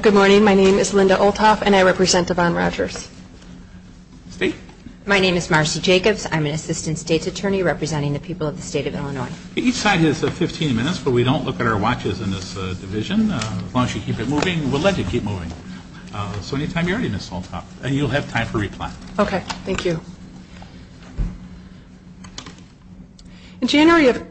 Good morning. My name is Linda Olthoff and I represent Devon Rogers. State? My name is Marcy Jacobs. I'm an Assistant State's Attorney representing the people of the state of Illinois. Each side has 15 minutes, but we don't look at our watches in this division. As long as you keep it moving, we'll let you keep moving. So anytime you're ready, Ms. Olthoff, you'll have time for reply. Okay. Thank you. In January of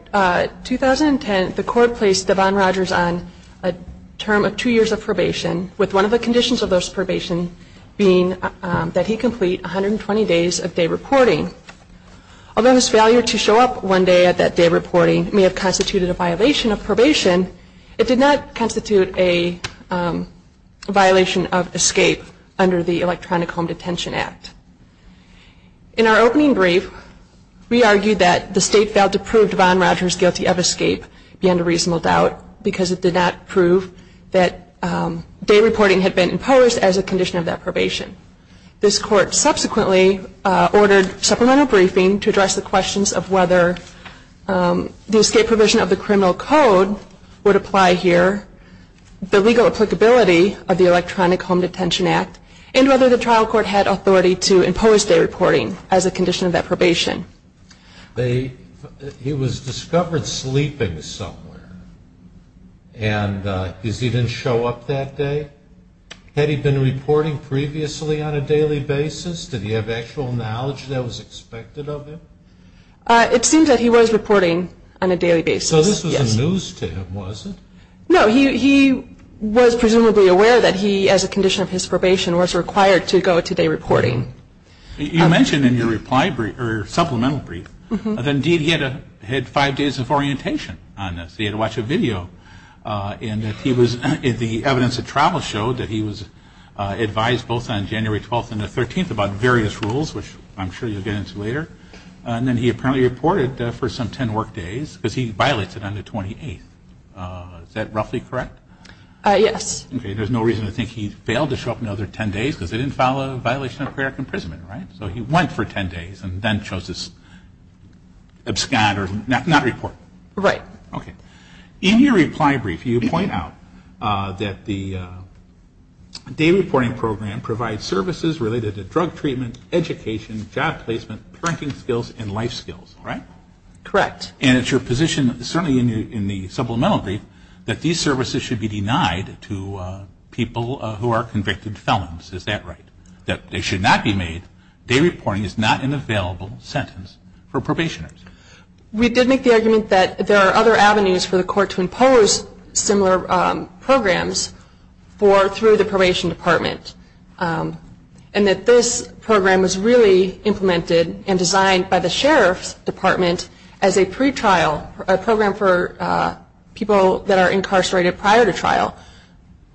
2010, the court placed Devon Rogers on a term of two years of probation, with one of the conditions of those probation being that he complete 120 days of day reporting. Although his failure to show up one day at that day reporting may have constituted a violation of probation, it did not constitute a violation of escape under the Electronic Home Detention Act. In our opening brief, we argued that the state failed to prove Devon Rogers guilty of escape beyond a reasonable doubt because it did not prove that day reporting had been imposed as a condition of that probation. This court subsequently ordered supplemental briefing to address the questions of whether the escape provision of the criminal code would apply here, the legal applicability of the Electronic Home Detention Act, and whether the trial court had authority to impose day reporting as a condition of that probation. He was discovered sleeping somewhere, and he didn't show up that day? Had he been reporting previously on a daily basis? Did he have actual knowledge that was expected of him? It seems that he was reporting on a daily basis, yes. So this was news to him, was it? No, he was presumably aware that he, as a condition of his probation, was required to go to day reporting. You mentioned in your supplemental brief that indeed he had five days of orientation on this. He had to watch a video, and the evidence of travel showed that he was advised both on January 12th and the 13th about various rules, which I'm sure you'll get into later, and then he apparently reported for some 10 work days because he violated on the 28th. Is that roughly correct? Yes. Okay, there's no reason to think he failed to show up another 10 days because they didn't file a violation of prior imprisonment, right? So he went for 10 days and then chose to abscond or not report? Right. Okay. In your reply brief, you point out that the day reporting program provides services related to drug treatment, education, job placement, parenting skills, and life skills, right? Correct. And it's your position, certainly in the supplemental brief, that these services should be denied to people who are convicted felons, is that right? That they should not be made, day reporting is not an available sentence for probationers. We did make the argument that there are other avenues for the court to impose similar programs through the probation department, and that this program was really implemented and designed by the sheriff's department as a pretrial, a program for people that are incarcerated prior to trial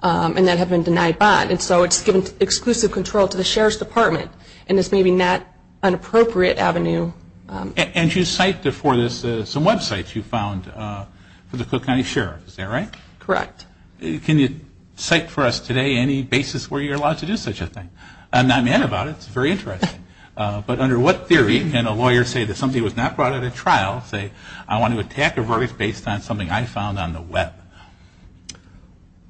and that have been denied bond, and so it's given exclusive control to the sheriff's department, and it's maybe not an appropriate avenue. And you cite before this some websites you found for the Cook County Sheriff, is that right? Correct. Can you cite for us today any basis where you're allowed to do such a thing? I'm not mad about it, it's very interesting. But under what theory can a lawyer say that somebody was not brought in at trial, say, I want to attack a verdict based on something I found on the web?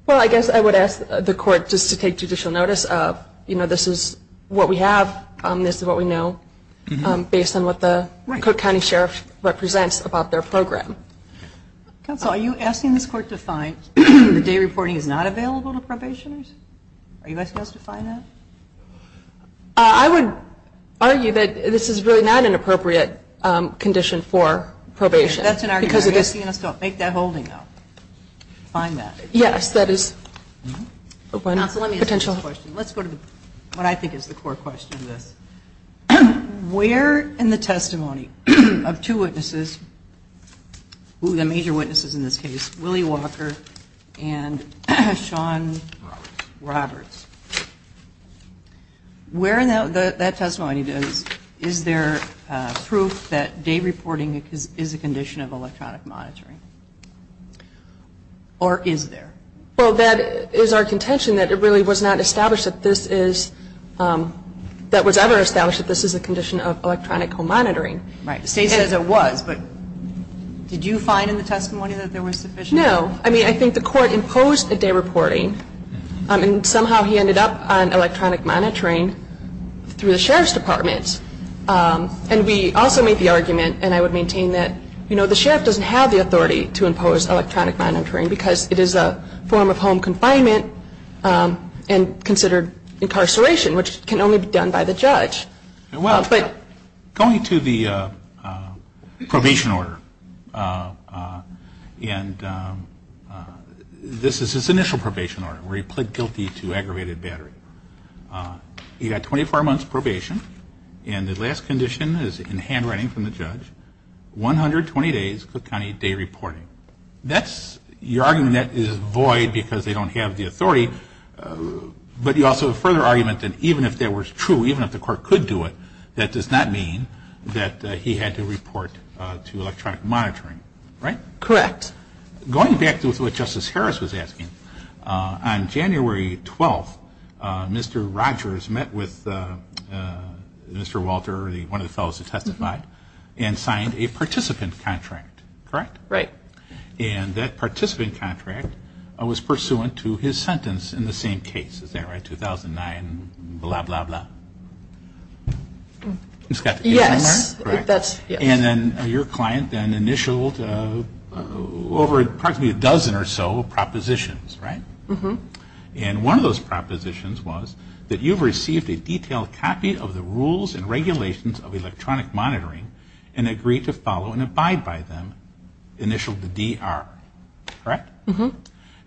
Well, I guess I would ask the court just to take judicial notice of, you know, this is what we have, this is what we know based on what the Cook County Sheriff represents about their program. Counsel, are you asking this court to find the day reporting is not available to probationers? Are you asking us to find that? I would argue that this is really not an appropriate condition for probation. That's an argument. Are you asking us to make that holding, though, find that? Yes, that is one potential. Let's go to what I think is the core question of this. Where in the testimony of two witnesses, the major witnesses in this case, Willie Walker and Sean Roberts, where in that testimony is there proof that day reporting is a condition of electronic monitoring? Or is there? Well, that is our contention that it really was not established that this is, that was ever established that this is a condition of electronic home monitoring. Right. The State says it was, but did you find in the testimony that there was sufficient? No. I mean, I think the court imposed a day reporting, and somehow he ended up on electronic monitoring through the Sheriff's Department. The Sheriff doesn't have the authority to impose electronic monitoring because it is a form of home confinement and considered incarceration, which can only be done by the judge. Well, going to the probation order, and this is his initial probation order, where he pled guilty to aggravated battery. He got 24 months probation, and the last condition is in handwriting from the judge, 120 days Cook County day reporting. That's, you're arguing that is void because they don't have the authority, but you also have a further argument that even if that were true, even if the court could do it, that does not mean that he had to report to electronic monitoring. Right? Correct. Going back to what Justice Harris was asking, on January 12th, Mr. Rogers met with Mr. Walter, one of the fellows who testified, and signed a participant contract. Correct? Right. And that participant contract was pursuant to his sentence in the same case. Is that right? 2009 blah, blah, blah. Yes. And then your client then initialed over approximately a dozen or so propositions. Right? And one of those propositions was that you've received a detailed copy of the rules and regulations of electronic monitoring, and agreed to follow and abide by them, initialed the DR. Correct? Mm-hmm.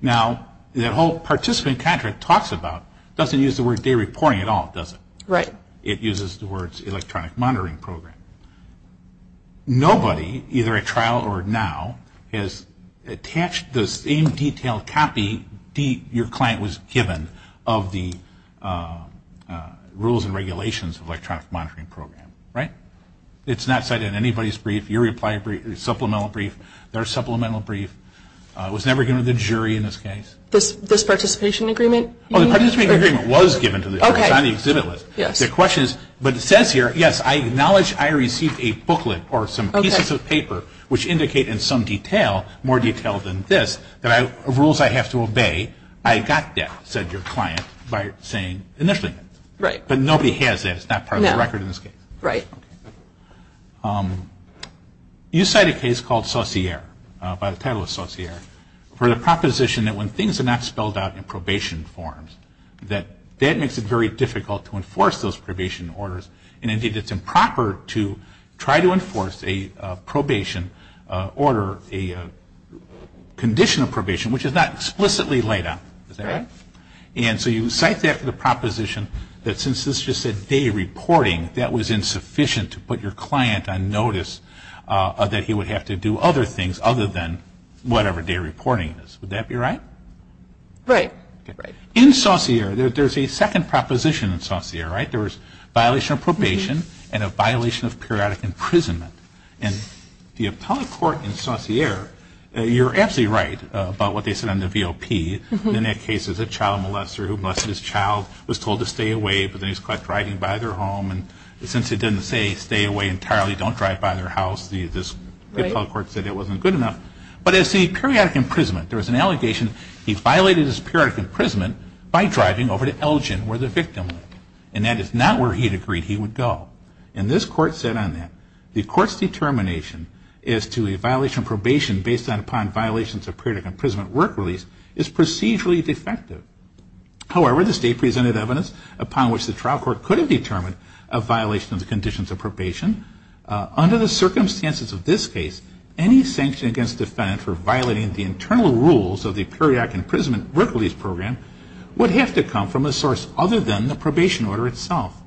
Now, that whole participant contract talks about doesn't use the word day reporting at all, does it? Right. It uses the words electronic monitoring program. Nobody, either at trial or now, has attached the same detailed copy your client was given of the rules and regulations of electronic monitoring program. Right? It's not cited in anybody's brief, your supplemental brief, their supplemental brief. It was never given to the jury in this case. This participation agreement? Oh, the participation agreement was given to the jury. Okay. It was on the exhibit list. Yes. The question is, but it says here, yes, I acknowledge I received a booklet or some pieces of paper, which indicate in some detail, more detail than this, that rules I have to obey. I got that, said your client, by saying initially. Right. But nobody has that. It's not part of the record in this case. Right. You cite a case called Saussure, by the title of Saussure, for the proposition that when things are not spelled out in probation forms, that that makes it very difficult to enforce those probation orders, and indeed it's improper to try to enforce a probation order, a condition of probation, which is not explicitly laid out. Is that right? Right. And so you cite that for the proposition that since this is just a day reporting, that was insufficient to put your client on notice that he would have to do other things other than whatever day reporting is. Would that be right? Right. In Saussure, there's a second proposition in Saussure, right? There was violation of probation and a violation of periodic imprisonment. And the appellate court in Saussure, you're absolutely right about what they said on the VOP. In that case, it was a child molester who molested his child, was told to stay away, but then he was caught driving by their home. And since it didn't say stay away entirely, don't drive by their house, the appellate court said it wasn't good enough. But as the periodic imprisonment, there was an allegation he violated his periodic imprisonment by driving over to Elgin, where the victim lived. And that is not where he had agreed he would go. And this court said on that, the court's determination as to a violation of probation based upon violations of periodic imprisonment work release is procedurally defective. However, the state presented evidence upon which the trial court could have determined a violation of the conditions of probation. Under the circumstances of this case, any sanction against a defendant for violating the internal rules of the periodic imprisonment work release program would have to come from a source other than the probation order itself.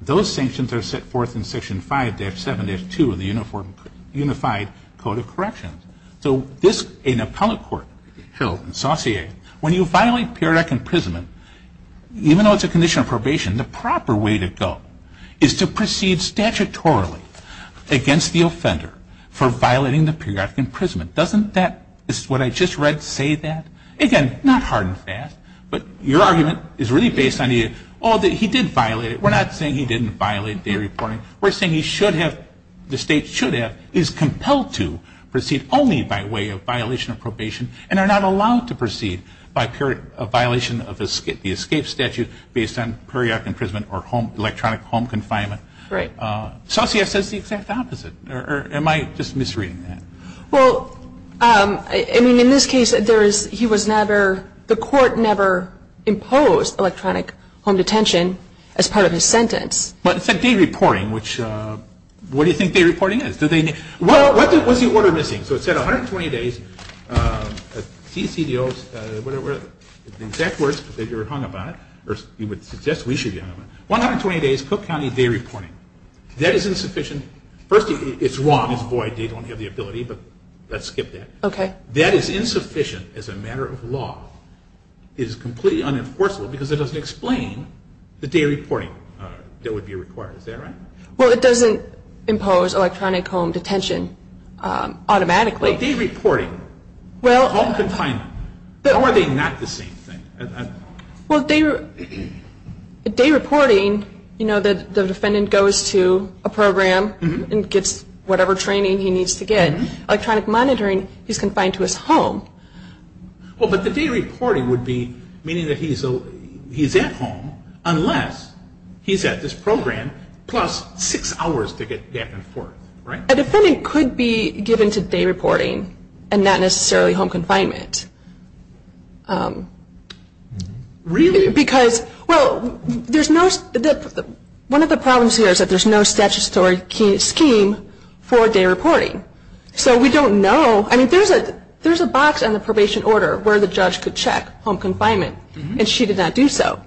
Those sanctions are set forth in Section 5-7-2 of the Unified Code of Corrections. So this, an appellate court held in Saussure, when you violate periodic imprisonment, even though it's a condition of probation, the proper way to go is to proceed statutorily against the offender for violating the periodic imprisonment. Doesn't that, what I just read, say that? Again, not hard and fast, but your argument is really based on, oh, he did violate it. We're not saying he didn't violate the reporting. We're saying he should have, the state should have, is compelled to proceed only by way of violation of probation and are not allowed to proceed by violation of the escape statute based on periodic imprisonment or home, electronic home confinement. Right. Saussure says the exact opposite. Or am I just misreading that? Well, I mean, in this case, there is, he was never, the court never imposed electronic home detention as part of his sentence. But it said day reporting, which, what do you think day reporting is? Well, what's the order missing? So it said 120 days. CCDO, the exact words that you're hung up on, or you would suggest we should be hung up on, 120 days Cook County day reporting. That is insufficient. First, it's wrong. It's void. They don't have the ability, but let's skip that. That is insufficient as a matter of law. It is completely unenforceable because it doesn't explain the day reporting that would be required. Is that right? Well, it doesn't impose electronic home detention automatically. Well, day reporting, home confinement, how are they not the same thing? Well, day reporting, you know, the defendant goes to a program and gets whatever training he needs to get. Electronic monitoring, he's confined to his home. Well, but the day reporting would be meaning that he's at home unless he's at this program, plus six hours to get back and forth, right? A defendant could be given to day reporting and not necessarily home confinement. Really? Because, well, one of the problems here is that there's no statutory scheme for day reporting. So we don't know. I mean, there's a box on the probation order where the judge could check home confinement, and she did not do so.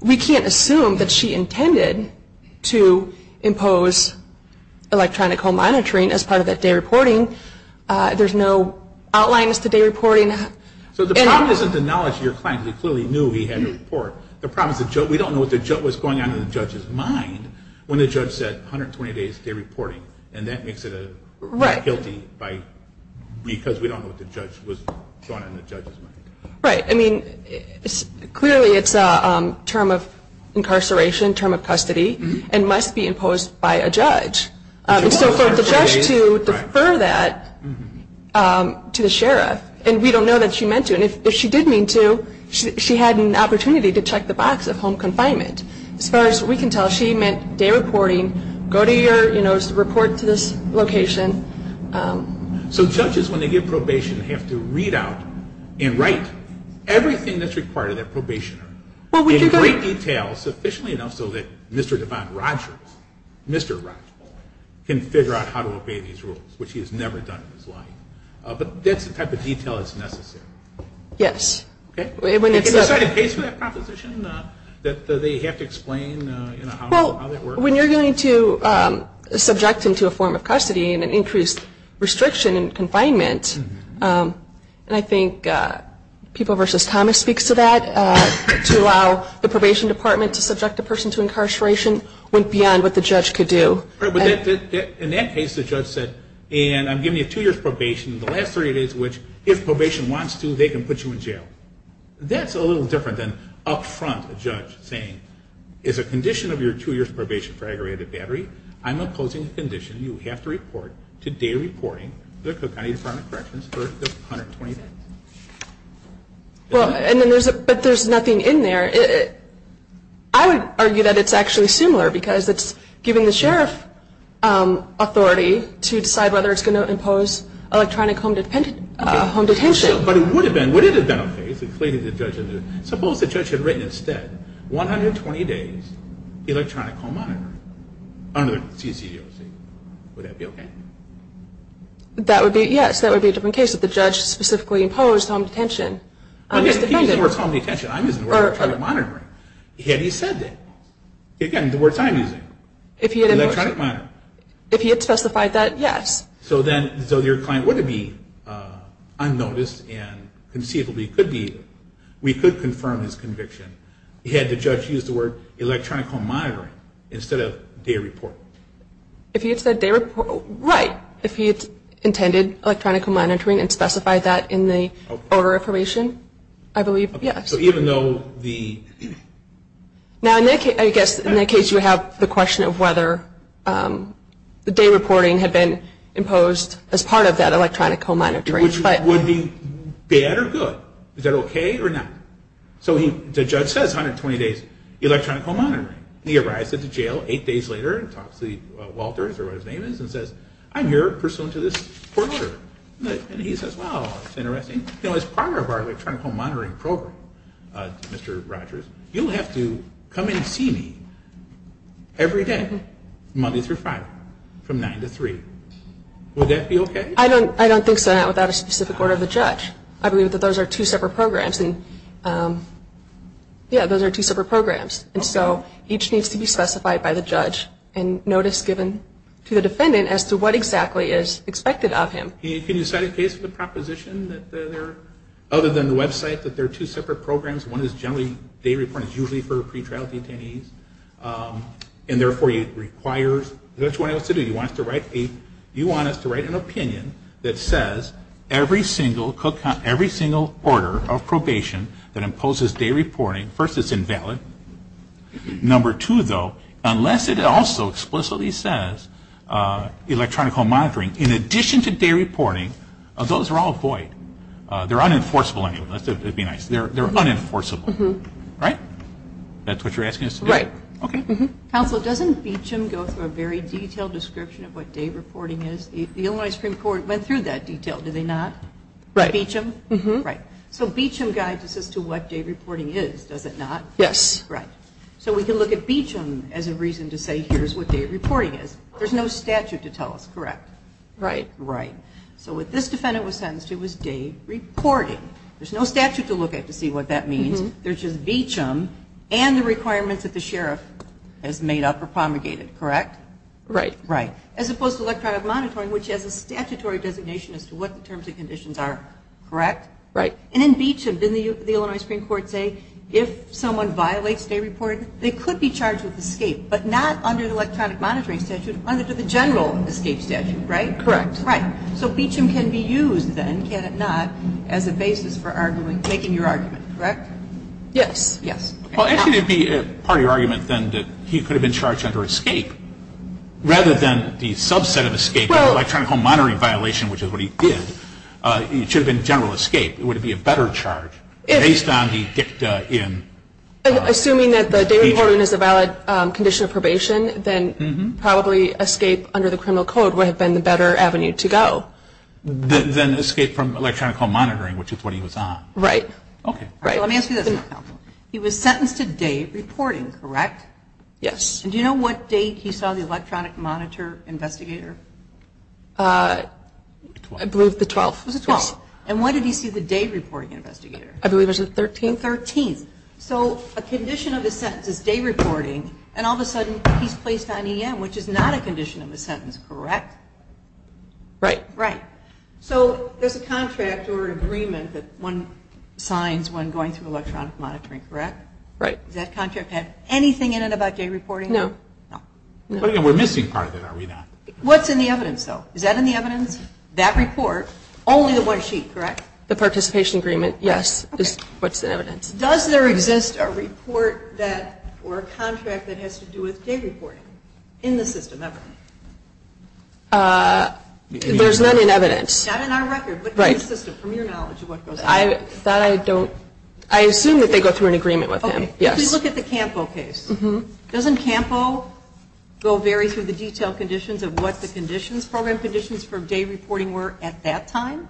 We can't assume that she intended to impose electronic home monitoring as part of that day reporting. There's no outline as to day reporting. So the problem isn't the knowledge of your client because he clearly knew he had to report. The problem is we don't know what was going on in the judge's mind when the judge said 120 days day reporting, and that makes it guilty because we don't know what was going on in the judge's mind. Right. I mean, clearly it's a term of incarceration, term of custody, and must be imposed by a judge. So for the judge to defer that to the sheriff, and we don't know that she meant to, and if she did mean to, she had an opportunity to check the box of home confinement. As far as we can tell, she meant day reporting, go to your, you know, report to this location. So judges, when they get probation, have to read out and write everything that's required of their probationer in great detail sufficiently enough so that Mr. Devon Rogers, Mr. Rogers, can figure out how to obey these rules, which he has never done in his life. But that's the type of detail that's necessary. Yes. Okay? When it's a- Is there a set of dates for that proposition that they have to explain, you know, how that works? When you're going to subject him to a form of custody and an increased restriction in confinement, and I think People v. Thomas speaks to that, to allow the probation department to subject a person to incarceration went beyond what the judge could do. In that case, the judge said, and I'm giving you two years probation, the last 30 days of which, if probation wants to, they can put you in jail. That's a little different than up front a judge saying, is a condition of your two years probation for aggravated battery, I'm imposing a condition you have to report to data reporting, the Cook County Department of Corrections, for the 120 days. Well, and then there's a, but there's nothing in there. I would argue that it's actually similar because it's given the sheriff authority to decide whether it's going to impose electronic home detention. But it would have been, would it have been a phase, suppose the judge had written instead, 120 days electronic home monitoring under the CCDOC. Would that be okay? That would be, yes. That would be a different case if the judge specifically imposed home detention. He used the word home detention. I'm using the word electronic monitoring. Yet he said that. Again, the words I'm using. Electronic monitoring. If he had specified that, yes. So then, so your client wouldn't be unnoticed and conceivably could be. We could confirm his conviction. He had the judge use the word electronic home monitoring instead of day report. If he had said day report, right. If he had intended electronic home monitoring and specified that in the order of probation, I believe, yes. So even though the. Now, Nick, I guess in that case you have the question of whether the day reporting had been imposed as part of that electronic home monitoring. Which would be bad or good? Is that okay or not? So the judge says 120 days electronic home monitoring. He arrives at the jail eight days later and talks to Walters or whatever his name is and says, I'm here pursuant to this court order. And he says, well, that's interesting. As part of our electronic home monitoring program, Mr. Rogers, you'll have to come in and see me every day, Monday through Friday, from 9 to 3. Would that be okay? I don't think so, not without a specific order of the judge. I believe that those are two separate programs. Yeah, those are two separate programs. And so each needs to be specified by the judge and notice given to the defendant as to what exactly is expected of him. Can you cite a case of the proposition that there are, other than the website, that there are two separate programs? One is generally, day reporting is usually for pretrial detainees. And therefore, it requires, that's what he wants to do. He wants us to write an opinion that says every single order of probation that imposes day reporting, first it's invalid. Number two, though, unless it also explicitly says electronic home monitoring, in addition to day reporting, those are all void. They're unenforceable anyway. That would be nice. They're unenforceable. Right? That's what you're asking us to do? Right. Okay. Counsel, doesn't Beecham go through a very detailed description of what day reporting is? The Illinois Supreme Court went through that detail, did they not? Right. Beecham? Right. So Beecham guides us as to what day reporting is, does it not? Yes. Right. So we can look at Beecham as a reason to say here's what day reporting is. There's no statute to tell us, correct? Right. Right. So what this defendant was sentenced to was day reporting. There's no statute to look at to see what that means. There's just Beecham and the requirements that the sheriff has made up or promulgated, correct? Right. Right. As opposed to electronic monitoring, which has a statutory designation as to what the terms and conditions are, correct? Right. And in Beecham, didn't the Illinois Supreme Court say if someone violates day reporting, they could be charged with escape, but not under the electronic monitoring statute, under the general escape statute, right? Correct. Right. So Beecham can be used then, can it not, as a basis for making your argument, correct? Yes. Yes. Well, actually it would be part of your argument then that he could have been charged under escape rather than the subset of escape, the electronic monitoring violation, which is what he did. It should have been general escape. It would have been a better charge based on the dicta in. Assuming that the day reporting is a valid condition of probation, then probably escape under the criminal code would have been the better avenue to go. Then escape from electronic monitoring, which is what he was on. Right. Okay. Let me ask you this. He was sentenced to day reporting, correct? Yes. And do you know what date he saw the electronic monitor investigator? I believe the 12th. It was the 12th. And when did he see the day reporting investigator? I believe it was the 13th. The 13th. So a condition of his sentence is day reporting, and all of a sudden he's placed on EM, which is not a condition of his sentence, correct? Right. Right. So there's a contract or agreement that one signs when going through electronic monitoring, correct? Right. Does that contract have anything in it about day reporting? No. No. But again, we're missing part of it, are we not? What's in the evidence, though? Is that in the evidence, that report, only the one sheet, correct? The participation agreement, yes. That's what's in evidence. Does there exist a report that or a contract that has to do with day reporting in the system, ever? There's none in evidence. Not in our record, but in the system, from your knowledge of what goes on. That I don't. I assume that they go through an agreement with him, yes. Okay. Please look at the Campo case. Doesn't Campo go very through the detailed conditions of what the conditions, program conditions for day reporting were at that time?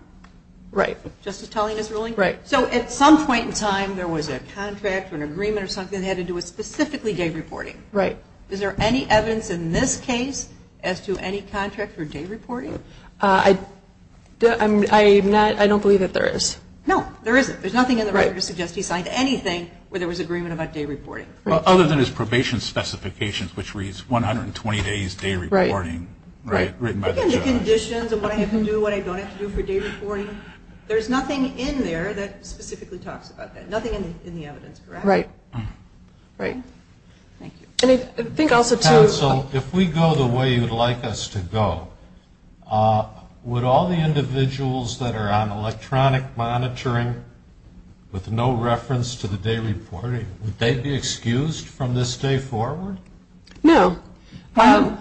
Right. Justice Talian is ruling? Right. So at some point in time, there was a contract or an agreement or something that had to do with specifically day reporting. Right. Is there any evidence in this case as to any contract for day reporting? I don't believe that there is. No, there isn't. There's nothing in the record to suggest he signed anything where there was agreement about day reporting. Well, other than his probation specifications, which reads, 120 days day reporting, right, written by the judge. Look at the conditions of what I have to do, what I don't have to do for day reporting. There's nothing in there that specifically talks about that. Nothing in the evidence, correct? Right. Right. Thank you. Counsel, if we go the way you'd like us to go, would all the individuals that are on electronic monitoring with no reference to the day reporting, would they be excused from this day forward? No. No.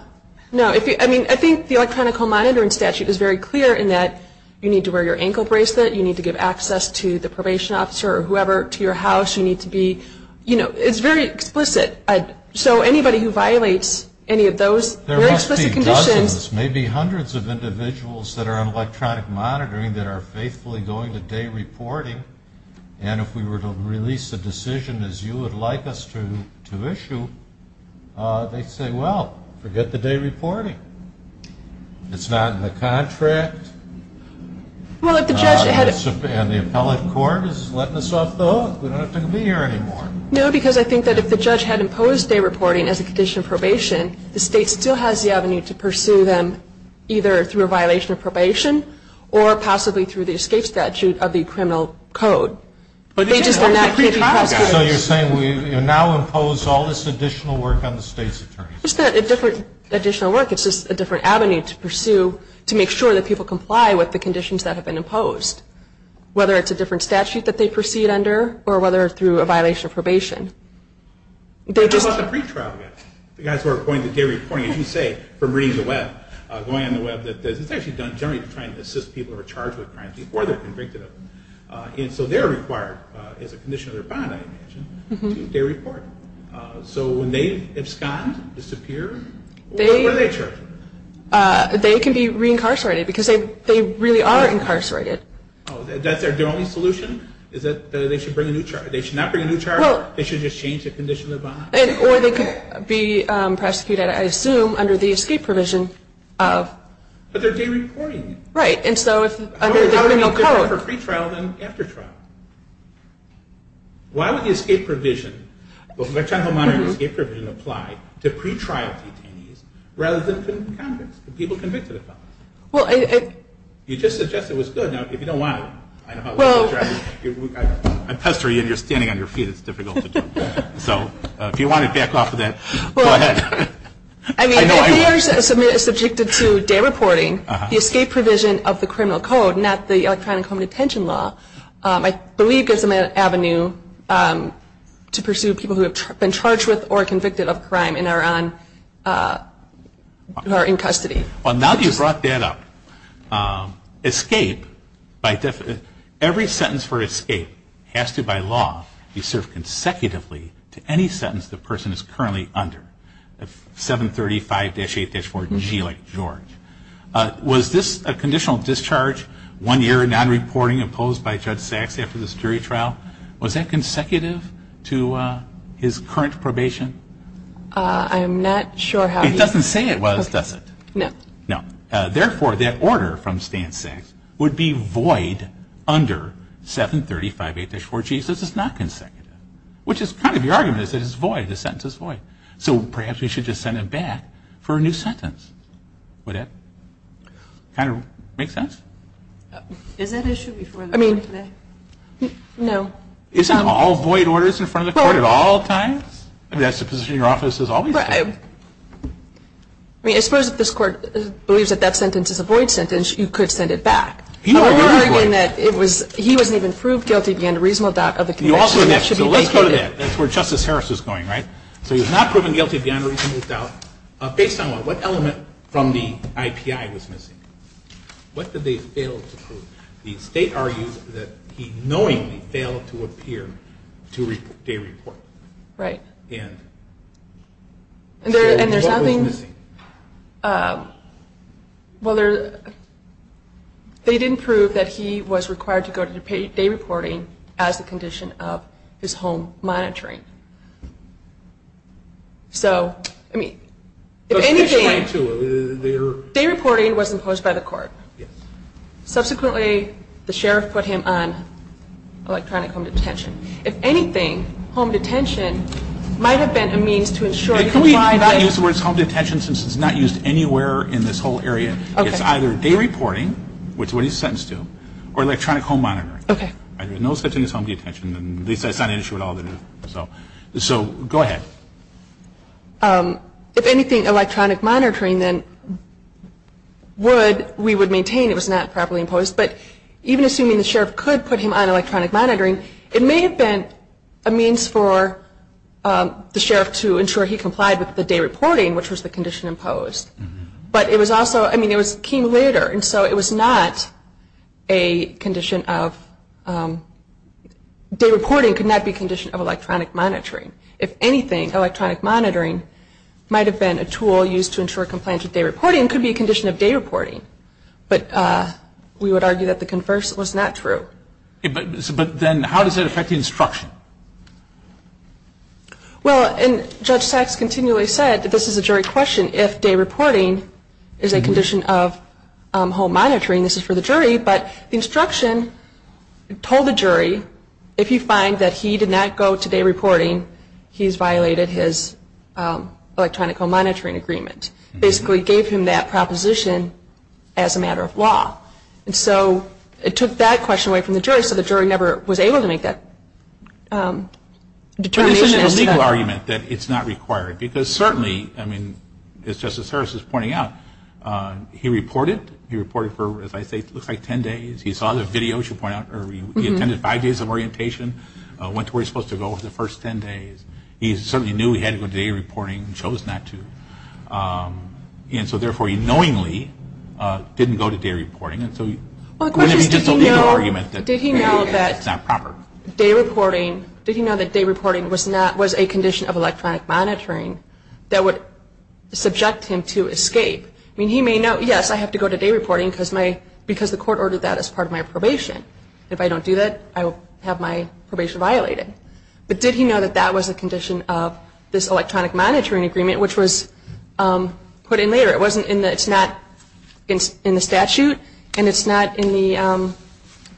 I mean, I think the electronic home monitoring statute is very clear in that you need to wear your ankle bracelet, you need to give access to the probation officer or whoever to your house, you need to be, you know, it's very explicit. So anybody who violates any of those very explicit conditions. There must be dozens, maybe hundreds of individuals that are on electronic monitoring that are faithfully going to day reporting, and if we were to release a decision as you would like us to issue, they'd say, well, forget the day reporting. It's not in the contract. And the appellate court is letting us off the hook. We don't have to be here anymore. No, because I think that if the judge had imposed day reporting as a condition of probation, the state still has the avenue to pursue them either through a violation of probation or possibly through the escape statute of the criminal code. So you're saying we now impose all this additional work on the state's attorneys? It's not a different additional work. It's just a different avenue to pursue to make sure that people comply with the conditions that have been imposed, whether it's a different statute that they proceed under or whether it's through a violation of probation. What about the pretrial guys, the guys who are going to day reporting, as you say, from reading the web, going on the web, it's actually done generally to try and assist people who are charged with crimes before they're convicted of them. And so they're required as a condition of their bond, as I mentioned, to do day reporting. So when they abscond, disappear, what are they charged with? They can be reincarcerated because they really are incarcerated. Oh, that's their only solution is that they should bring a new charge. They should not bring a new charge. They should just change the condition of the bond. Or they could be prosecuted, I assume, under the escape provision. But they're day reporting. Right, and so under the criminal code. How are they different for pretrial than after trial? Why would the escape provision apply to pretrial detainees rather than convicts, the people convicted of felonies? You just suggested it was good. Now, if you don't want to, I know how long you've been driving. I pester you and you're standing on your feet. It's difficult to jump back. So if you want to back off of that, go ahead. I mean, if they are subjected to day reporting, the escape provision of the criminal code, not the electronic home detention law, I believe gives them an avenue to pursue people who have been charged with or convicted of a crime and are in custody. Well, now that you've brought that up, every sentence for escape has to, by law, be served consecutively to any sentence the person is currently under, 735-8-4G like George. Was this a conditional discharge, one year of non-reporting imposed by Judge Sachs after this jury trial? Was that consecutive to his current probation? I'm not sure how he... It doesn't say it was, does it? No. No. Therefore, that order from Stan Sachs would be void under 735-8-4G. This is not consecutive, which is kind of your argument is that it's void. The sentence is void. So perhaps we should just send it back for a new sentence. Would that kind of make sense? Is that an issue before the court today? I mean, no. Isn't all void orders in front of the court at all times? I mean, that's the position your office has always had. Right. I mean, I suppose if this court believes that that sentence is a void sentence, you could send it back. You don't agree with that. I'm arguing that he wasn't even proved guilty beyond a reasonable doubt of the connection. You also mentioned, so let's go to that. That's where Justice Harris is going, right? So he was not proven guilty beyond a reasonable doubt. Based on what? What element from the IPI was missing? What did they fail to prove? The state argues that he knowingly failed to appear to day report. Right. And what was missing? Well, they didn't prove that he was required to go to day reporting as a condition of his home monitoring. Right. So, I mean, if anything, day reporting was imposed by the court. Yes. Subsequently, the sheriff put him on electronic home detention. If anything, home detention might have been a means to ensure. Can we not use the word home detention since it's not used anywhere in this whole area? Okay. It's either day reporting, which is what he's sentenced to, or electronic home monitoring. Okay. No such thing as home detention. At least that's not an issue at all. So go ahead. If anything, electronic monitoring then would, we would maintain it was not properly imposed. But even assuming the sheriff could put him on electronic monitoring, it may have been a means for the sheriff to ensure he complied with the day reporting, which was the condition imposed. But it was also, I mean, it came later. And so it was not a condition of, day reporting could not be a condition of electronic monitoring. If anything, electronic monitoring might have been a tool used to ensure compliance with day reporting. It could be a condition of day reporting. But we would argue that the converse was not true. But then how does it affect the instruction? Well, and Judge Sachs continually said that this is a jury question. If day reporting is a condition of home monitoring, this is for the jury. But the instruction told the jury, if you find that he did not go to day reporting, he has violated his electronic home monitoring agreement. Basically gave him that proposition as a matter of law. And so it took that question away from the jury, so the jury never was able to make that determination. But isn't it a legal argument that it's not required? Because certainly, I mean, as Justice Harris is pointing out, he reported. He reported for, as I say, it looks like ten days. He saw the video, as you point out, or he attended five days of orientation, went to where he was supposed to go over the first ten days. He certainly knew he had to go to day reporting and chose not to. And so, therefore, he knowingly didn't go to day reporting. It's just a legal argument that it's not proper. Did he know that day reporting was a condition of electronic monitoring that would subject him to escape? I mean, he may know, yes, I have to go to day reporting because the court ordered that as part of my probation. If I don't do that, I will have my probation violated. But did he know that that was a condition of this electronic monitoring agreement, which was put in later? It's not in the statute, and it's not in the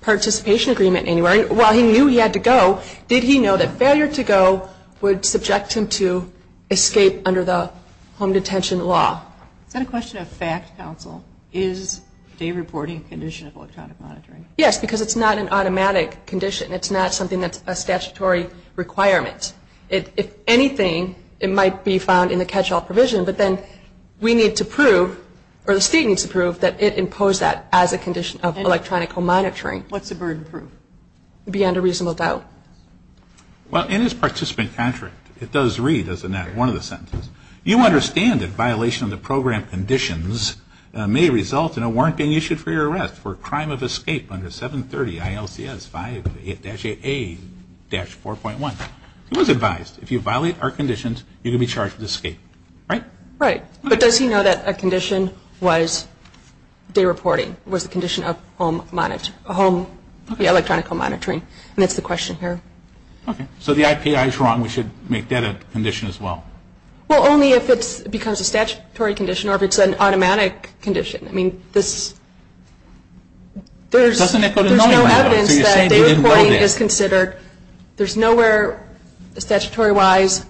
participation agreement anywhere. While he knew he had to go, did he know that failure to go would subject him to escape under the home detention law? Is that a question of fact, counsel? Is day reporting a condition of electronic monitoring? Yes, because it's not an automatic condition. It's not something that's a statutory requirement. If anything, it might be found in the catch-all provision, but then we need to prove, or the state needs to prove, that it imposed that as a condition of electronic monitoring. What's the burden proof? Beyond a reasonable doubt. Well, in his participant contract, it does read as in that one of the sentences, you understand that violation of the program conditions may result in a warrant being issued for your arrest for a crime of escape under 730 ILCS 5-8A-4.1. It was advised. If you violate our conditions, you're going to be charged with escape. Right? Right. But does he know that a condition was day reporting, was the condition of home electronic monitoring? And that's the question here. Okay. So the IPI is wrong. We should make that a condition as well. Well, only if it becomes a statutory condition or if it's an automatic condition. I mean, there's no evidence that day reporting is considered. There's nowhere statutory-wise,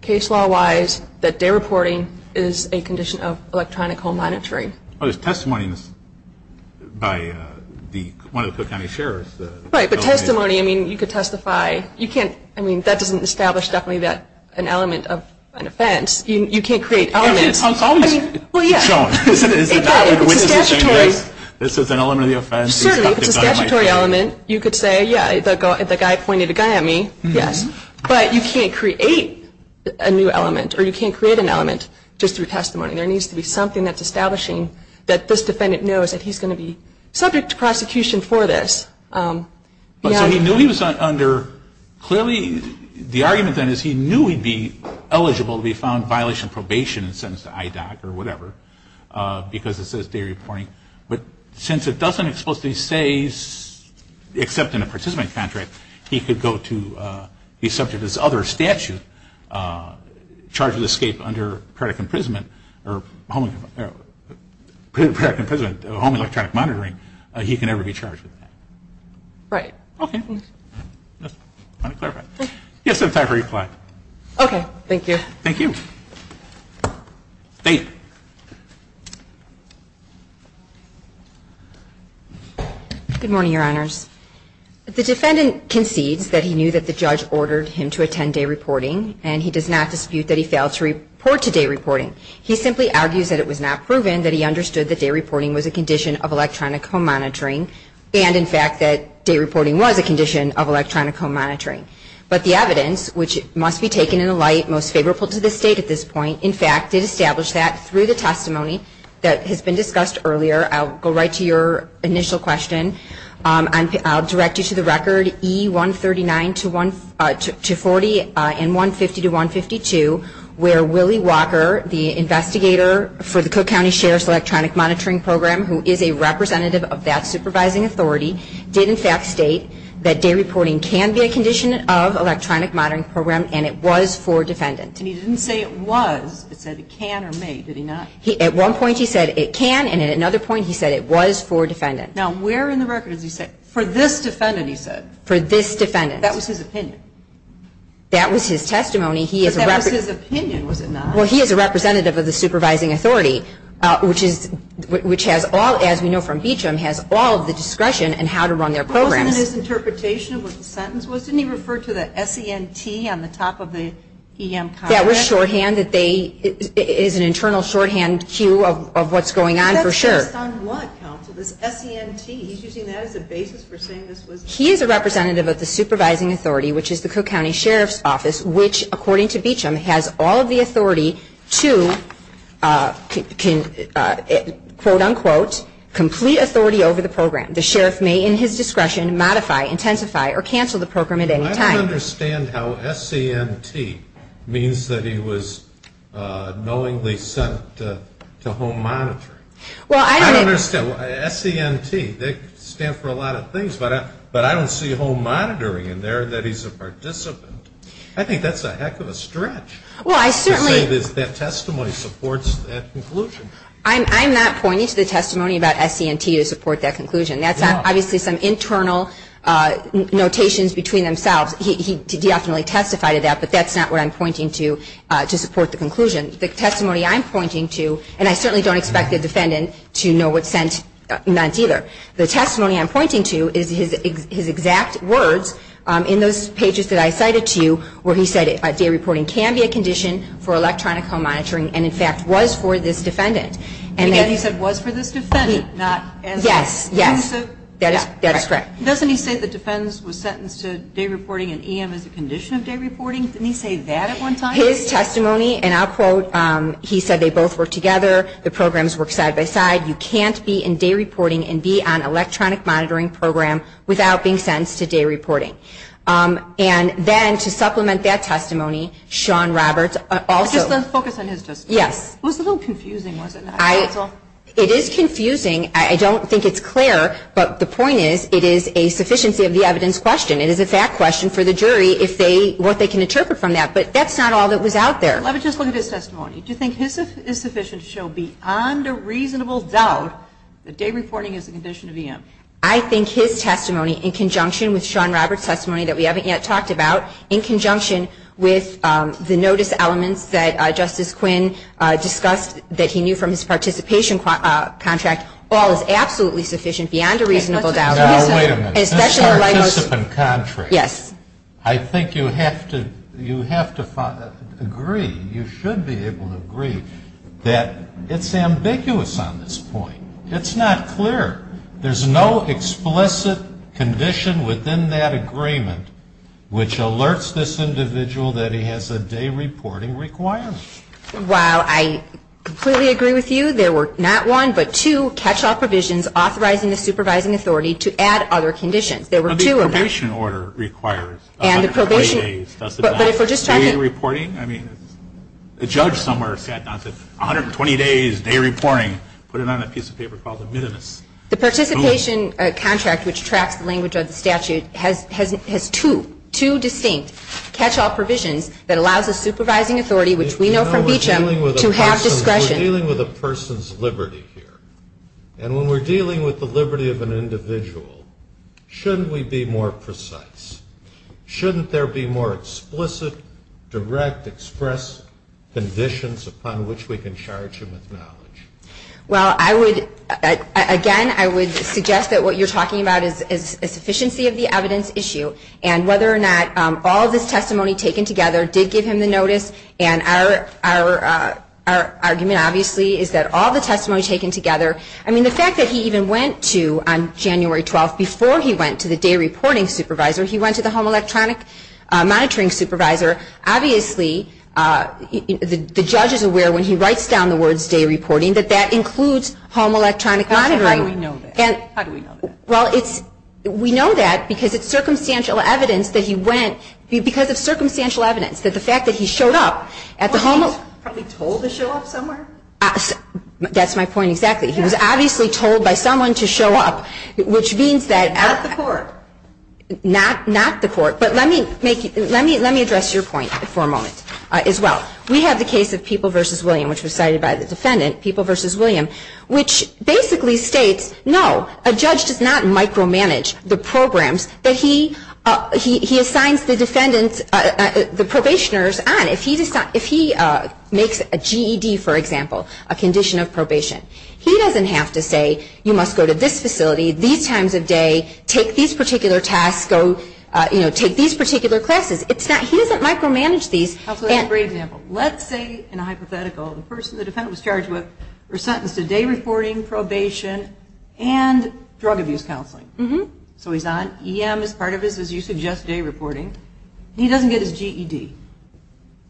case law-wise, that day reporting is a condition of electronic home monitoring. Oh, there's testimonies by one of the Cook County sheriffs. Right, but testimony, I mean, you could testify. You can't, I mean, that doesn't establish definitely an element of an offense. You can't create elements. Well, yeah. It's a statutory. This is an element of the offense. Certainly, it's a statutory element. You could say, yeah, the guy pointed a gun at me, yes. But you can't create a new element or you can't create an element just through testimony. There needs to be something that's establishing that this defendant knows that he's going to be subject to prosecution for this. So he knew he was under, clearly, the argument then is he knew he'd be eligible to be found in violation of probation and sentenced to IDOC or whatever because it says day reporting. But since it doesn't explicitly say, except in a participant contract, he could go to, he's subject to this other statute, charged with escape under credit imprisonment or credit imprisonment home electronic monitoring, he can never be charged with that. Right. Okay. Just wanted to clarify. Yes, that's my reply. Okay. Thank you. Thank you. Good morning, Your Honors. The defendant concedes that he knew that the judge ordered him to attend day reporting and he does not dispute that he failed to report to day reporting. He simply argues that it was not proven that he understood that day reporting was a condition of electronic home monitoring and, in fact, that day reporting was a condition of electronic home monitoring. But the evidence, which must be taken in a light most favorable to this State at this point, in fact, did establish that through the testimony that has been discussed earlier. I'll go right to your initial question. I'll direct you to the record E139-40 and 150-152, where Willie Walker, the investigator for the Cook County Sheriff's Electronic Monitoring Program, who is a representative of that supervising authority, did, in fact, state that day reporting can be a condition of electronic monitoring program and it was for a defendant. And he didn't say it was. It said it can or may. Did he not? At one point he said it can, and at another point he said it was for a defendant. Now, where in the record does he say, for this defendant, he said? For this defendant. That was his opinion. That was his testimony. But that was his opinion, was it not? Well, he is a representative of the supervising authority, which has all, as we know from Beecham, has all of the discretion in how to run their programs. But wasn't his interpretation of what the sentence was? Didn't he refer to the S-E-N-T on the top of the E-M comment? That was shorthand. It is an internal shorthand cue of what's going on for sure. That's based on what, counsel, this S-E-N-T? He's using that as a basis for saying this was? He is a representative of the supervising authority, which is the Cook County Sheriff's Office, which, according to Beecham, has all of the authority to, quote, unquote, complete authority over the program. The sheriff may, in his discretion, modify, intensify, or cancel the program at any time. I don't understand how S-E-N-T means that he was knowingly sent to home monitoring. Well, I don't. I don't understand. S-E-N-T, they stand for a lot of things, but I don't see home monitoring in there that he's a participant. I think that's a heck of a stretch to say that testimony supports that conclusion. I'm not pointing to the testimony about S-E-N-T to support that conclusion. That's obviously some internal notations between themselves. He definitely testified to that, but that's not what I'm pointing to to support the conclusion. The testimony I'm pointing to, and I certainly don't expect the defendant to know what S-E-N-T either. The testimony I'm pointing to is his exact words in those pages that I cited to you where he said day reporting can be a condition for electronic home monitoring and, in fact, was for this defendant. And again, he said was for this defendant, not S-E-N-T. Yes, yes. That is correct. Doesn't he say the defense was sentenced to day reporting and E-M is a condition of day reporting? Didn't he say that at one time? His testimony, and I'll quote, he said they both work together. The programs work side by side. You can't be in day reporting and be on electronic monitoring program without being sentenced to day reporting. And then to supplement that testimony, Sean Roberts also. Just focus on his testimony. Yes. It was a little confusing, wasn't it? It is confusing. I don't think it's clear, but the point is it is a sufficiency of the evidence question. It is a fact question for the jury if they, what they can interpret from that. But that's not all that was out there. Let me just look at his testimony. Do you think his is sufficient to show beyond a reasonable doubt that day reporting is a condition of E-M? I think his testimony in conjunction with Sean Roberts' testimony that we haven't yet talked about, in conjunction with the notice elements that Justice Quinn discussed that he knew from his participation contract, all is absolutely sufficient beyond a reasonable doubt. Now, wait a minute. This participant contract. Yes. I think you have to agree, you should be able to agree, that it's ambiguous on this point. It's not clear. There's no explicit condition within that agreement which alerts this individual that he has a day reporting requirement. Well, I completely agree with you. There were not one, but two catch-all provisions authorizing the supervising authority to add other conditions. There were two of them. But the probation order requires 120 days. And the probation. But if we're just talking. I mean, the judge somewhere sat down and said, 120 days, day reporting. Put it on a piece of paper called a minimus. The participation contract, which tracks the language of the statute, has two distinct catch-all provisions that allows the supervising authority, which we know from Beecham, to have discretion. We're dealing with a person's liberty here. And when we're dealing with the liberty of an individual, shouldn't we be more precise? Shouldn't there be more explicit, direct, express conditions upon which we can charge him with knowledge? Well, I would. Again, I would suggest that what you're talking about is a sufficiency of the evidence issue. And whether or not all of this testimony taken together did give him the notice. And our argument, obviously, is that all the testimony taken together. I mean, the fact that he even went to, on January 12th, before he went to the day reporting supervisor, he went to the home electronic monitoring supervisor. Obviously, the judge is aware when he writes down the words, day reporting, that that includes home electronic monitoring. How do we know that? How do we know that? Well, we know that because it's circumstantial evidence that he went. Because of circumstantial evidence. That the fact that he showed up at the home. Was he told to show up somewhere? That's my point exactly. He was obviously told by someone to show up. Which means that. Not the court. Not the court. But let me address your point for a moment as well. We have the case of People v. William, which was cited by the defendant. People v. William. Which basically states, no, a judge does not micromanage the programs that he assigns the probationers on. If he makes a GED, for example, a condition of probation. He doesn't have to say, you must go to this facility these times of day. Take these particular tasks. Take these particular classes. He doesn't micromanage these. That's a great example. Let's say, in a hypothetical, the person the defendant was charged with, was sentenced to day reporting, probation, and drug abuse counseling. So he's on. EM is part of his, as you suggest, day reporting. He doesn't get his GED.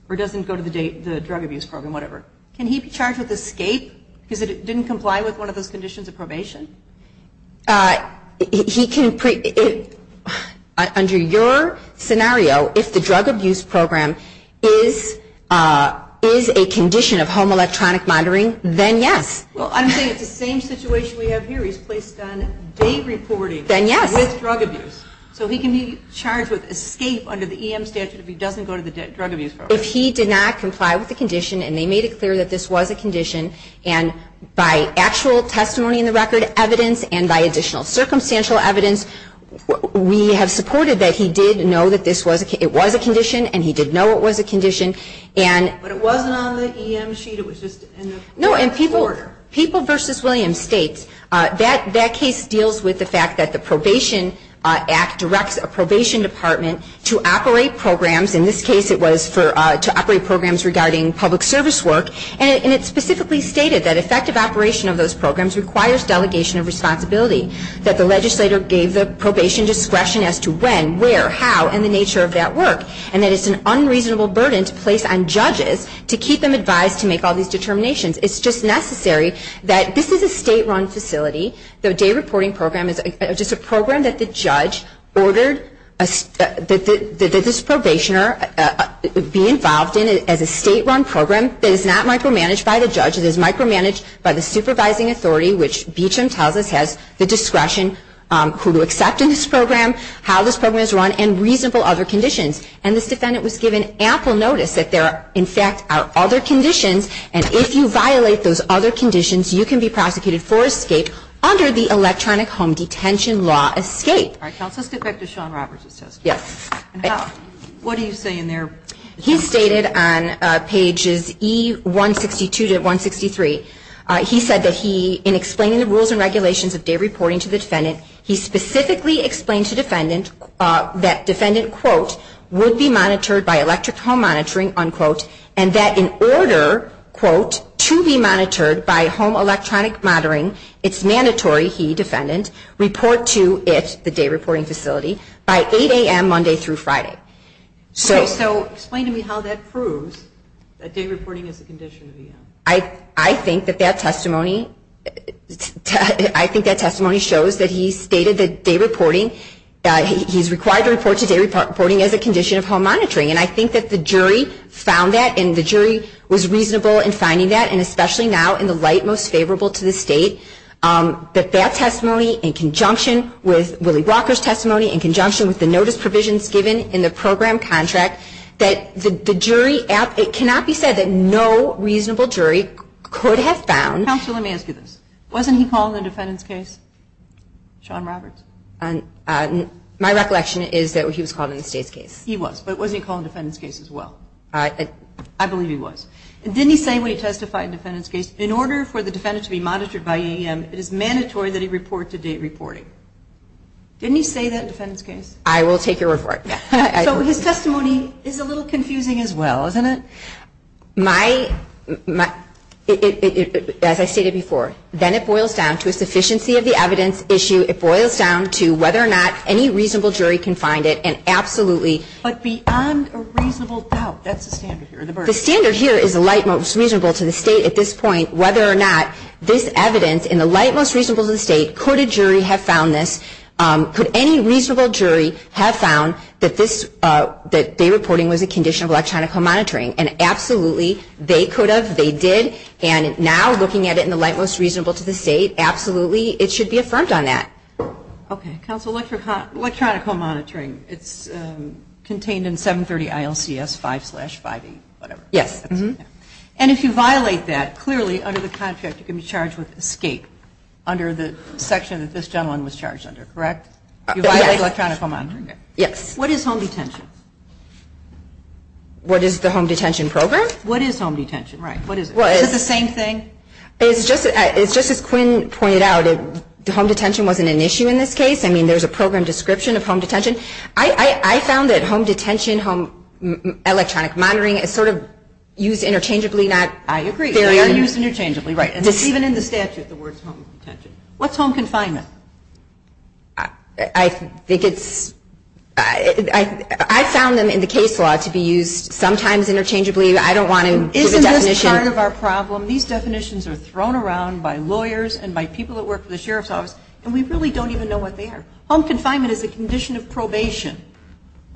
Or doesn't go to the drug abuse program, whatever. Can he be charged with escape because he didn't comply with one of those conditions of probation? Under your scenario, if the drug abuse program is a condition of home electronic monitoring, then yes. Well, I'm saying it's the same situation we have here. He's placed on day reporting. Then yes. With drug abuse. So he can be charged with escape under the EM statute if he doesn't go to the drug abuse program. If he did not comply with the condition, and they made it clear that this was a condition, and by actual testimony in the record, evidence, and by additional circumstantial evidence, we have supported that he did know that this was a condition, and he did know it was a condition. But it wasn't on the EM sheet. It was just in the order. No, and People v. Williams states that that case deals with the fact that the Probation Act directs a probation department to operate programs. In this case, it was to operate programs regarding public service work, and it specifically stated that effective operation of those programs requires delegation of responsibility, that the legislator gave the probation discretion as to when, where, how, and the nature of that work, and that it's an unreasonable burden to place on judges to keep them advised to make all these determinations. It's just necessary that this is a state-run facility. The day reporting program is just a program that the judge ordered that this probationer be involved in as a state-run program that is not micromanaged by the judge. It is micromanaged by the supervising authority, which Beecham tells us has the discretion who to accept in this program, how this program is run, and reasonable other conditions. And this defendant was given ample notice that there are, in fact, other conditions, and if you violate those other conditions, you can be prosecuted for escape under the electronic home detention law escape. All right, counsel, let's get back to Sean Roberts' testimony. Yes. What do you say in there? He stated on pages E162 to 163, he said that he, in explaining the rules and regulations of day reporting to the defendant, he specifically explained to defendant that defendant, quote, would be monitored by electric home monitoring, unquote, and that in order, quote, to be monitored by home electronic monitoring, it's mandatory, he, defendant, report to it, the day reporting facility, by 8 a.m. Monday through Friday. So explain to me how that proves that day reporting is a condition. I think that that testimony, I think that testimony shows that he stated that day reporting, he's required to report to day reporting as a condition of home monitoring. And I think that the jury found that, and the jury was reasonable in finding that, and especially now in the light most favorable to the state, that that testimony, in conjunction with Willie Walker's testimony, in conjunction with the notice provisions given in the program contract, that the jury, it cannot be said that no reasonable jury could have found. Counsel, let me ask you this. Wasn't he called in the defendant's case, Sean Roberts? My recollection is that he was called in the state's case. He was, but wasn't he called in the defendant's case as well? I believe he was. Didn't he say when he testified in the defendant's case, in order for the defendant to be monitored by AEM, it is mandatory that he report to day reporting? Didn't he say that in the defendant's case? I will take your word for it. So his testimony is a little confusing as well, isn't it? My, as I stated before, then it boils down to a sufficiency of the evidence issue. It boils down to whether or not any reasonable jury can find it, and absolutely. But beyond a reasonable doubt, that's the standard here. The standard here is the light most reasonable to the state at this point, whether or not this evidence in the light most reasonable to the state, could a jury have found this, could any reasonable jury have found that this, that day reporting was a condition of electronical monitoring? And absolutely, they could have, they did, and now looking at it in the light most reasonable to the state, absolutely, it should be affirmed on that. Okay. Counsel, electronical monitoring, it's contained in 730 ILCS 5 slash 58, whatever. Yes. And if you violate that, clearly under the contract you can be charged with escape, under the section that this gentleman was charged under, correct? You violated electronical monitoring? Yes. What is home detention? What is the home detention program? What is home detention? Right. What is it? Is it the same thing? It's just as Quinn pointed out, home detention wasn't an issue in this case. I mean, there's a program description of home detention. I found that home detention, home electronic monitoring is sort of used interchangeably, not fairly. I agree. They are used interchangeably. Right. Even in the statute the word is home detention. What's home confinement? I think it's, I found them in the case law to be used sometimes interchangeably. I don't want to give a definition. Isn't this part of our problem? These definitions are thrown around by lawyers and by people that work for the sheriff's office and we really don't even know what they are. Home confinement is a condition of probation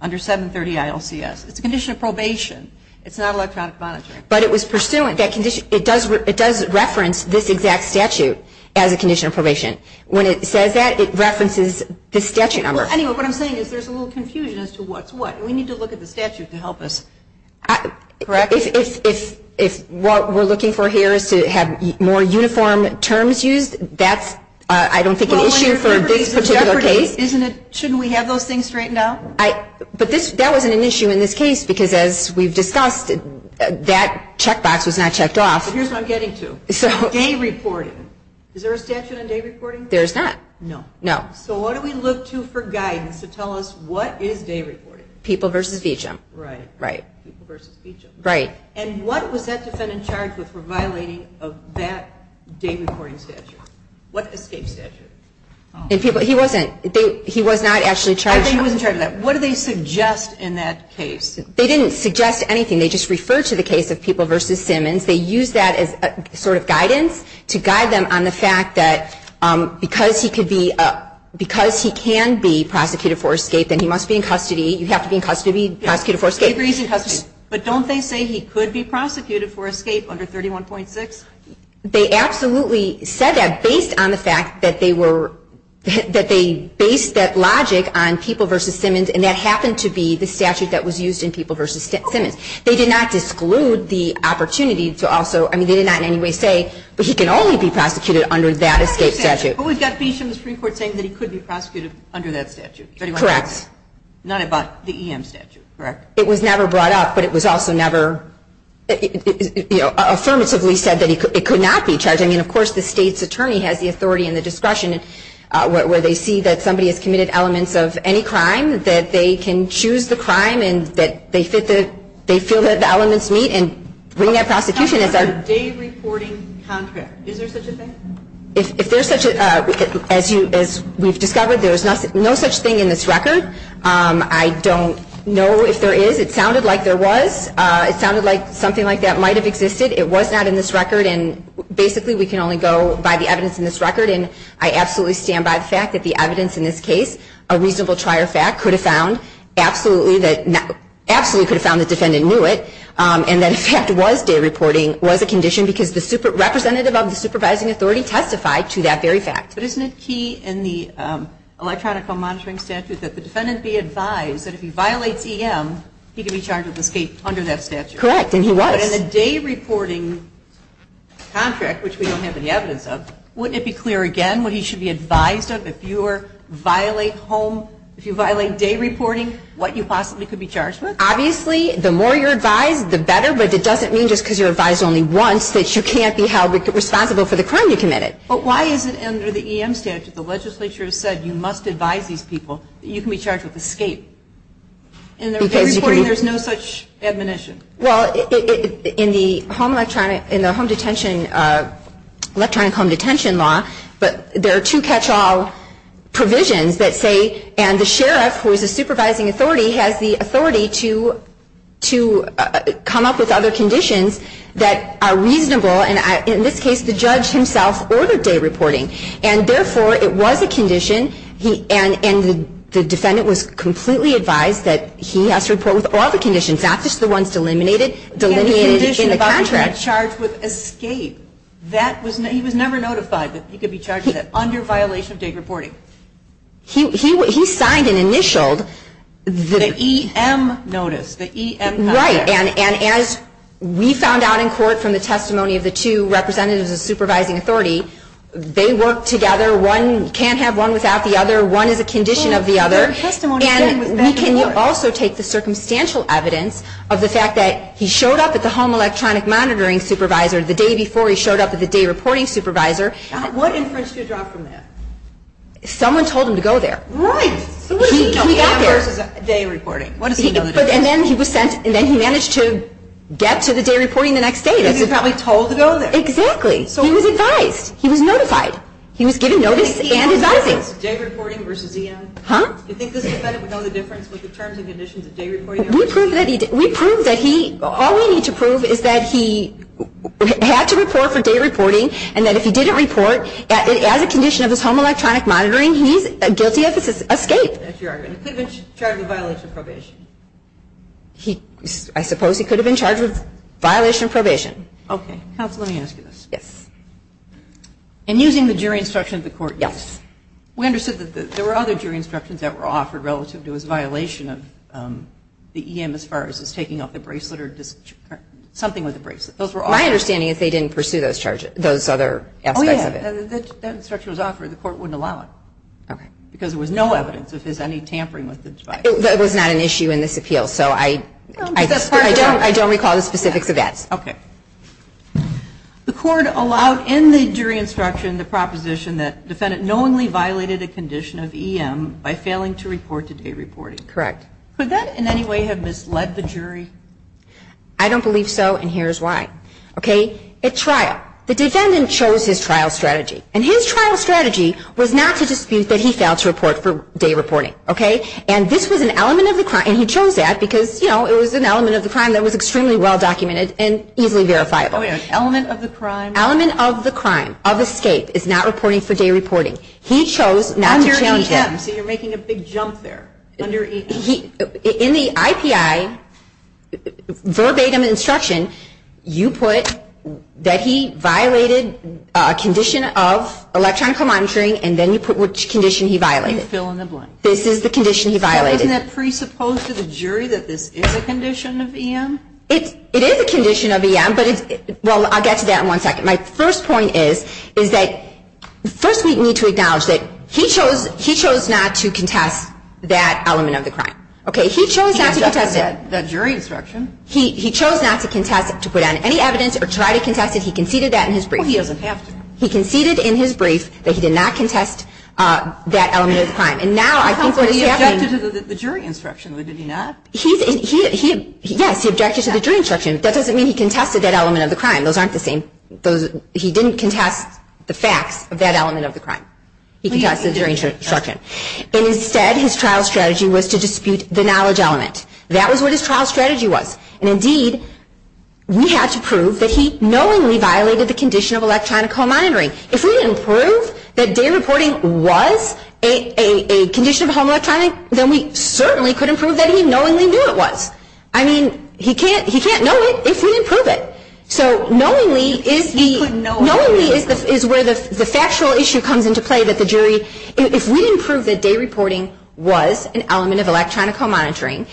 under 730 ILCS. It's a condition of probation. It's not electronic monitoring. But it was pursuant. It does reference this exact statute as a condition of probation. When it says that, it references the statute number. Anyway, what I'm saying is there's a little confusion as to what's what. We need to look at the statute to help us. If what we're looking for here is to have more uniform terms used, that's, I don't think, an issue for this particular case. Shouldn't we have those things straightened out? But that wasn't an issue in this case because as we've discussed, that checkbox was not checked off. Here's what I'm getting to. Day reporting. Is there a statute on day reporting? There's not. No. No. So what do we look to for guidance to tell us what is day reporting? People versus VJIM. Right. Right. People versus VJIM. Right. And what was that defendant charged with for violating of that day reporting statute? What escape statute? He wasn't. He was not actually charged. I think he wasn't charged with that. What do they suggest in that case? They didn't suggest anything. They just referred to the case of people versus Simmons. They used that as sort of guidance to guide them on the fact that because he could be, because he can be prosecuted for escape, then he must be in custody. You have to be in custody to be prosecuted for escape. He agrees in custody. But don't they say he could be prosecuted for escape under 31.6? They absolutely said that based on the fact that they were, that they based that logic on people versus Simmons, and that happened to be the statute that was used in people versus Simmons. They did not disclude the opportunity to also, I mean, they did not in any way say, but he can only be prosecuted under that escape statute. But we've got VJIM Supreme Court saying that he could be prosecuted under that statute. Correct. Not about the EM statute. Correct. It was never brought up, but it was also never, you know, affirmatively said that it could not be charged. I mean, of course, the state's attorney has the authority and the discretion, where they see that somebody has committed elements of any crime, that they can choose the crime and that they fit the, they feel that the elements meet, and bringing that prosecution is our. How about the day-reporting contract? Is there such a thing? If there's such a, as you, as we've discovered, there's no such thing in this record. I don't know if there is. It sounded like there was. It sounded like something like that might have existed. It was not in this record, and basically we can only go by the evidence in this record, and I absolutely stand by the fact that the evidence in this case, a reasonable trier fact, could have found absolutely that, absolutely could have found the defendant knew it, and that in fact was day-reporting was a condition because the representative of the supervising authority testified to that very fact. But isn't it key in the electronic home monitoring statute that the defendant be advised that if he violates EM, he can be charged with escape under that statute? Correct, and he was. But in the day-reporting contract, which we don't have any evidence of, wouldn't it be clear again what he should be advised of if you violate home, if you violate day-reporting, what you possibly could be charged with? Obviously, the more you're advised, the better, but it doesn't mean just because you're advised only once that you can't be held responsible for the crime you committed. But why is it under the EM statute the legislature has said you must advise these people that you can be charged with escape? In day-reporting there's no such admonition. Well, in the electronic home detention law, there are two catch-all provisions that say, and the sheriff, who is the supervising authority, has the authority to come up with other conditions that are reasonable, and in this case the judge himself ordered day-reporting. And therefore, it was a condition, and the defendant was completely advised that he has to report with all the conditions, not just the ones delineated in the contract. And the condition about being charged with escape, he was never notified that he could be charged with that under violation of day-reporting. He signed and initialed the EM notice, the EM contract. Right, and as we found out in court from the testimony of the two representatives of the supervising authority, they work together, one can't have one without the other, one is a condition of the other. And we can also take the circumstantial evidence of the fact that he showed up at the home electronic monitoring supervisor the day before he showed up at the day-reporting supervisor. What inference do you draw from that? Someone told him to go there. Right. He got there. EM versus day-reporting. And then he managed to get to the day-reporting the next day. He was probably told to go there. Exactly. He was advised. He was notified. He was given notice and advising. Day-reporting versus EM. Huh? Do you think this defendant would know the difference with the terms and conditions of day-reporting versus EM? We proved that he did. We proved that he, all we need to prove is that he had to report for day-reporting and that if he didn't report as a condition of his home electronic monitoring, he's guilty of escape. That's your argument. He could have been charged with violation of probation. I suppose he could have been charged with violation of probation. Okay. Counsel, let me ask you this. Yes. And using the jury instruction of the court. Yes. We understood that there were other jury instructions that were offered relative to his violation of the EM as far as his taking off the bracelet or something with the bracelet. Those were offered. My understanding is they didn't pursue those charges, those other aspects of it. Oh, yeah. That instruction was offered. The court wouldn't allow it. Okay. Because there was no evidence of his any tampering with the device. It was not an issue in this appeal, so I don't recall the specifics of that. Okay. The court allowed in the jury instruction the proposition that defendant knowingly violated a condition of EM by failing to report to day reporting. Correct. Could that in any way have misled the jury? I don't believe so, and here's why. Okay. At trial, the defendant chose his trial strategy. And his trial strategy was not to dispute that he failed to report for day reporting. Okay. And this was an element of the crime, and he chose that because, you know, it was an element of the crime that was extremely well documented and easily verifiable. Oh, yeah. Element of the crime. Element of the crime, of escape, is not reporting for day reporting. He chose not to challenge that. Under EM, so you're making a big jump there, under EM. In the IPI verbatim instruction, you put that he violated a condition of electronic monitoring, and then you put which condition he violated. You fill in the blank. This is the condition he violated. Isn't that presupposed to the jury that this is a condition of EM? It is a condition of EM, but it's – well, I'll get to that in one second. My first point is, is that first we need to acknowledge that he chose not to contest that element of the crime. Okay. He chose not to contest it. That jury instruction. He chose not to contest it, to put on any evidence or try to contest it. He conceded that in his brief. Well, he doesn't have to. He conceded in his brief that he did not contest that element of the crime. And now I think what is happening – Well, he objected to the jury instruction. Did he not? He – yes, he objected to the jury instruction. That doesn't mean he contested that element of the crime. Those aren't the same. Those – he didn't contest the facts of that element of the crime. He contested the jury instruction. And instead, his trial strategy was to dispute the knowledge element. That was what his trial strategy was. And indeed, we have to prove that he knowingly violated the condition of electronic home monitoring. If we didn't prove that day reporting was a condition of home electronic, then we certainly couldn't prove that he knowingly knew it was. I mean, he can't know it if we didn't prove it. So knowingly is the – He couldn't know it. Knowingly is where the factual issue comes into play that the jury – if we didn't prove that day reporting was an element of electronic home monitoring,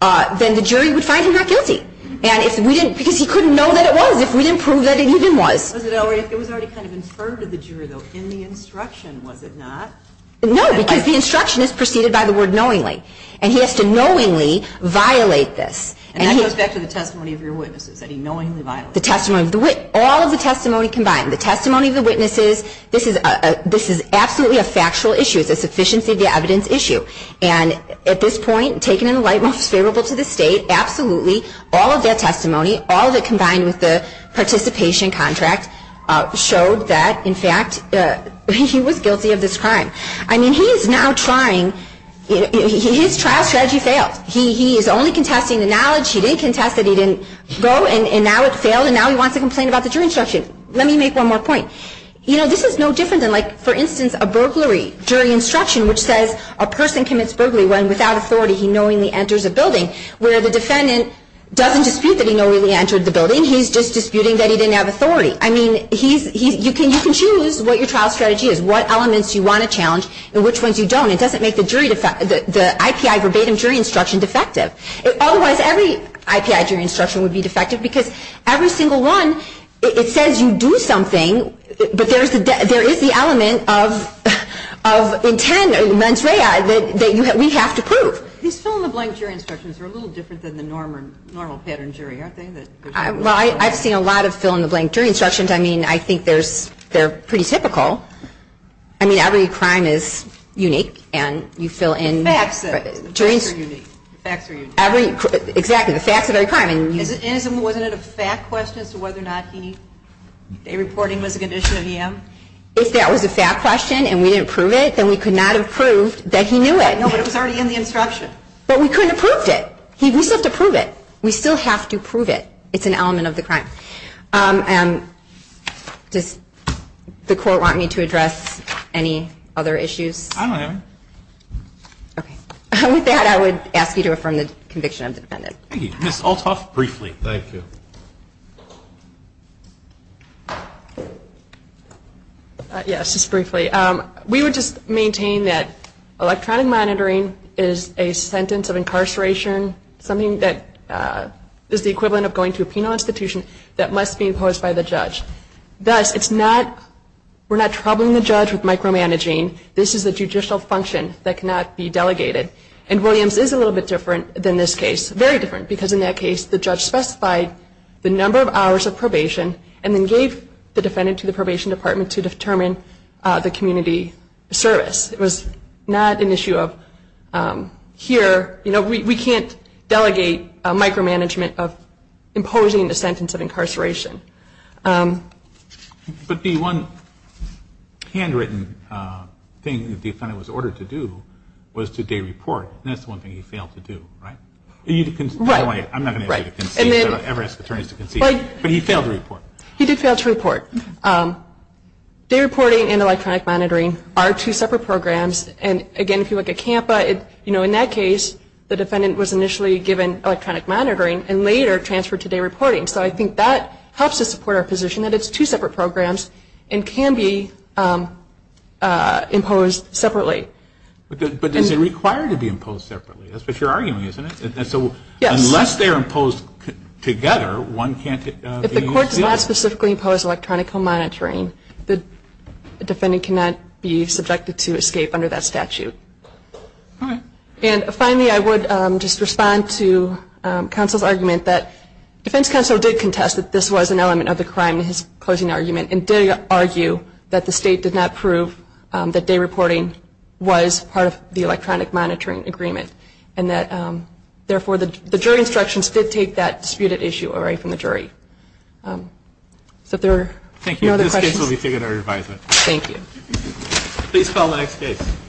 then the jury would find him not guilty. And if we didn't – because he couldn't know that it was if we didn't prove that it even was. It was already kind of inferred to the juror, though, in the instruction, was it not? No, because the instruction is preceded by the word knowingly. And he has to knowingly violate this. And that goes back to the testimony of your witnesses that he knowingly violated. The testimony of the – all of the testimony combined. The testimony of the witnesses, this is absolutely a factual issue. It's a sufficiency of the evidence issue. And at this point, taken in a light most favorable to the state, absolutely, all of that testimony, all of it combined with the participation contract, showed that, in fact, he was guilty of this crime. I mean, he is now trying – his trial strategy failed. He is only contesting the knowledge. He didn't contest it. He didn't go. And now it failed. And now he wants to complain about the jury instruction. Let me make one more point. You know, this is no different than, like, for instance, a burglary jury instruction, where the defendant doesn't dispute that he knowingly entered the building. He's just disputing that he didn't have authority. I mean, he's – you can choose what your trial strategy is, what elements you want to challenge and which ones you don't. It doesn't make the jury – the IPI verbatim jury instruction defective. Otherwise, every IPI jury instruction would be defective, because every single one, it says you do something, but there is the element of intent or mens rea that we have to prove. These fill-in-the-blank jury instructions are a little different than the normal pattern jury, aren't they? Well, I've seen a lot of fill-in-the-blank jury instructions. I mean, I think there's – they're pretty typical. I mean, every crime is unique, and you fill in – Facts are unique. Facts are unique. Every – exactly. The facts of every crime. And wasn't it a fact question as to whether or not he – a reporting was a condition of EM? If that was a fact question and we didn't prove it, then we could not have proved that he knew it. No, but it was already in the instruction. But we couldn't have proved it. We still have to prove it. We still have to prove it. It's an element of the crime. And does the Court want me to address any other issues? I don't have any. Okay. With that, I would ask you to affirm the conviction of the defendant. Thank you. Ms. Althoff, briefly. Thank you. Yes, just briefly. We would just maintain that electronic monitoring is a sentence of incarceration, something that is the equivalent of going to a penal institution, that must be imposed by the judge. Thus, it's not – we're not troubling the judge with micromanaging. This is a judicial function that cannot be delegated. And Williams is a little bit different than this case, very different, because in that case the judge specified the number of hours of probation and then gave the defendant to the probation department to determine the community service. It was not an issue of here, you know, we can't delegate micromanagement of imposing the sentence of incarceration. But the one handwritten thing that the defendant was ordered to do was to dereport, and that's the one thing he failed to do, right? Right. I'm not going to ask you to concede. I don't ever ask attorneys to concede. But he failed to report. He did fail to report. Dereporting and electronic monitoring are two separate programs. And again, if you look at CAMPA, you know, in that case, the defendant was initially given electronic monitoring and later transferred to dereporting. So I think that helps us support our position that it's two separate programs and can be imposed separately. But is it required to be imposed separately? That's what you're arguing, isn't it? Yes. Unless they're imposed together, one can't use the other. If the court does not specifically impose electronic monitoring, the defendant cannot be subjected to escape under that statute. All right. And finally, I would just respond to counsel's argument that defense counsel did contest that this was an element of the crime in his closing argument and did argue that the state did not prove that dereporting was part of the electronic monitoring agreement and that, therefore, the jury instructions did take that disputed issue away from the jury. So if there are no other questions. Thank you. This case will be taken under advisement. Thank you. Please call the next case.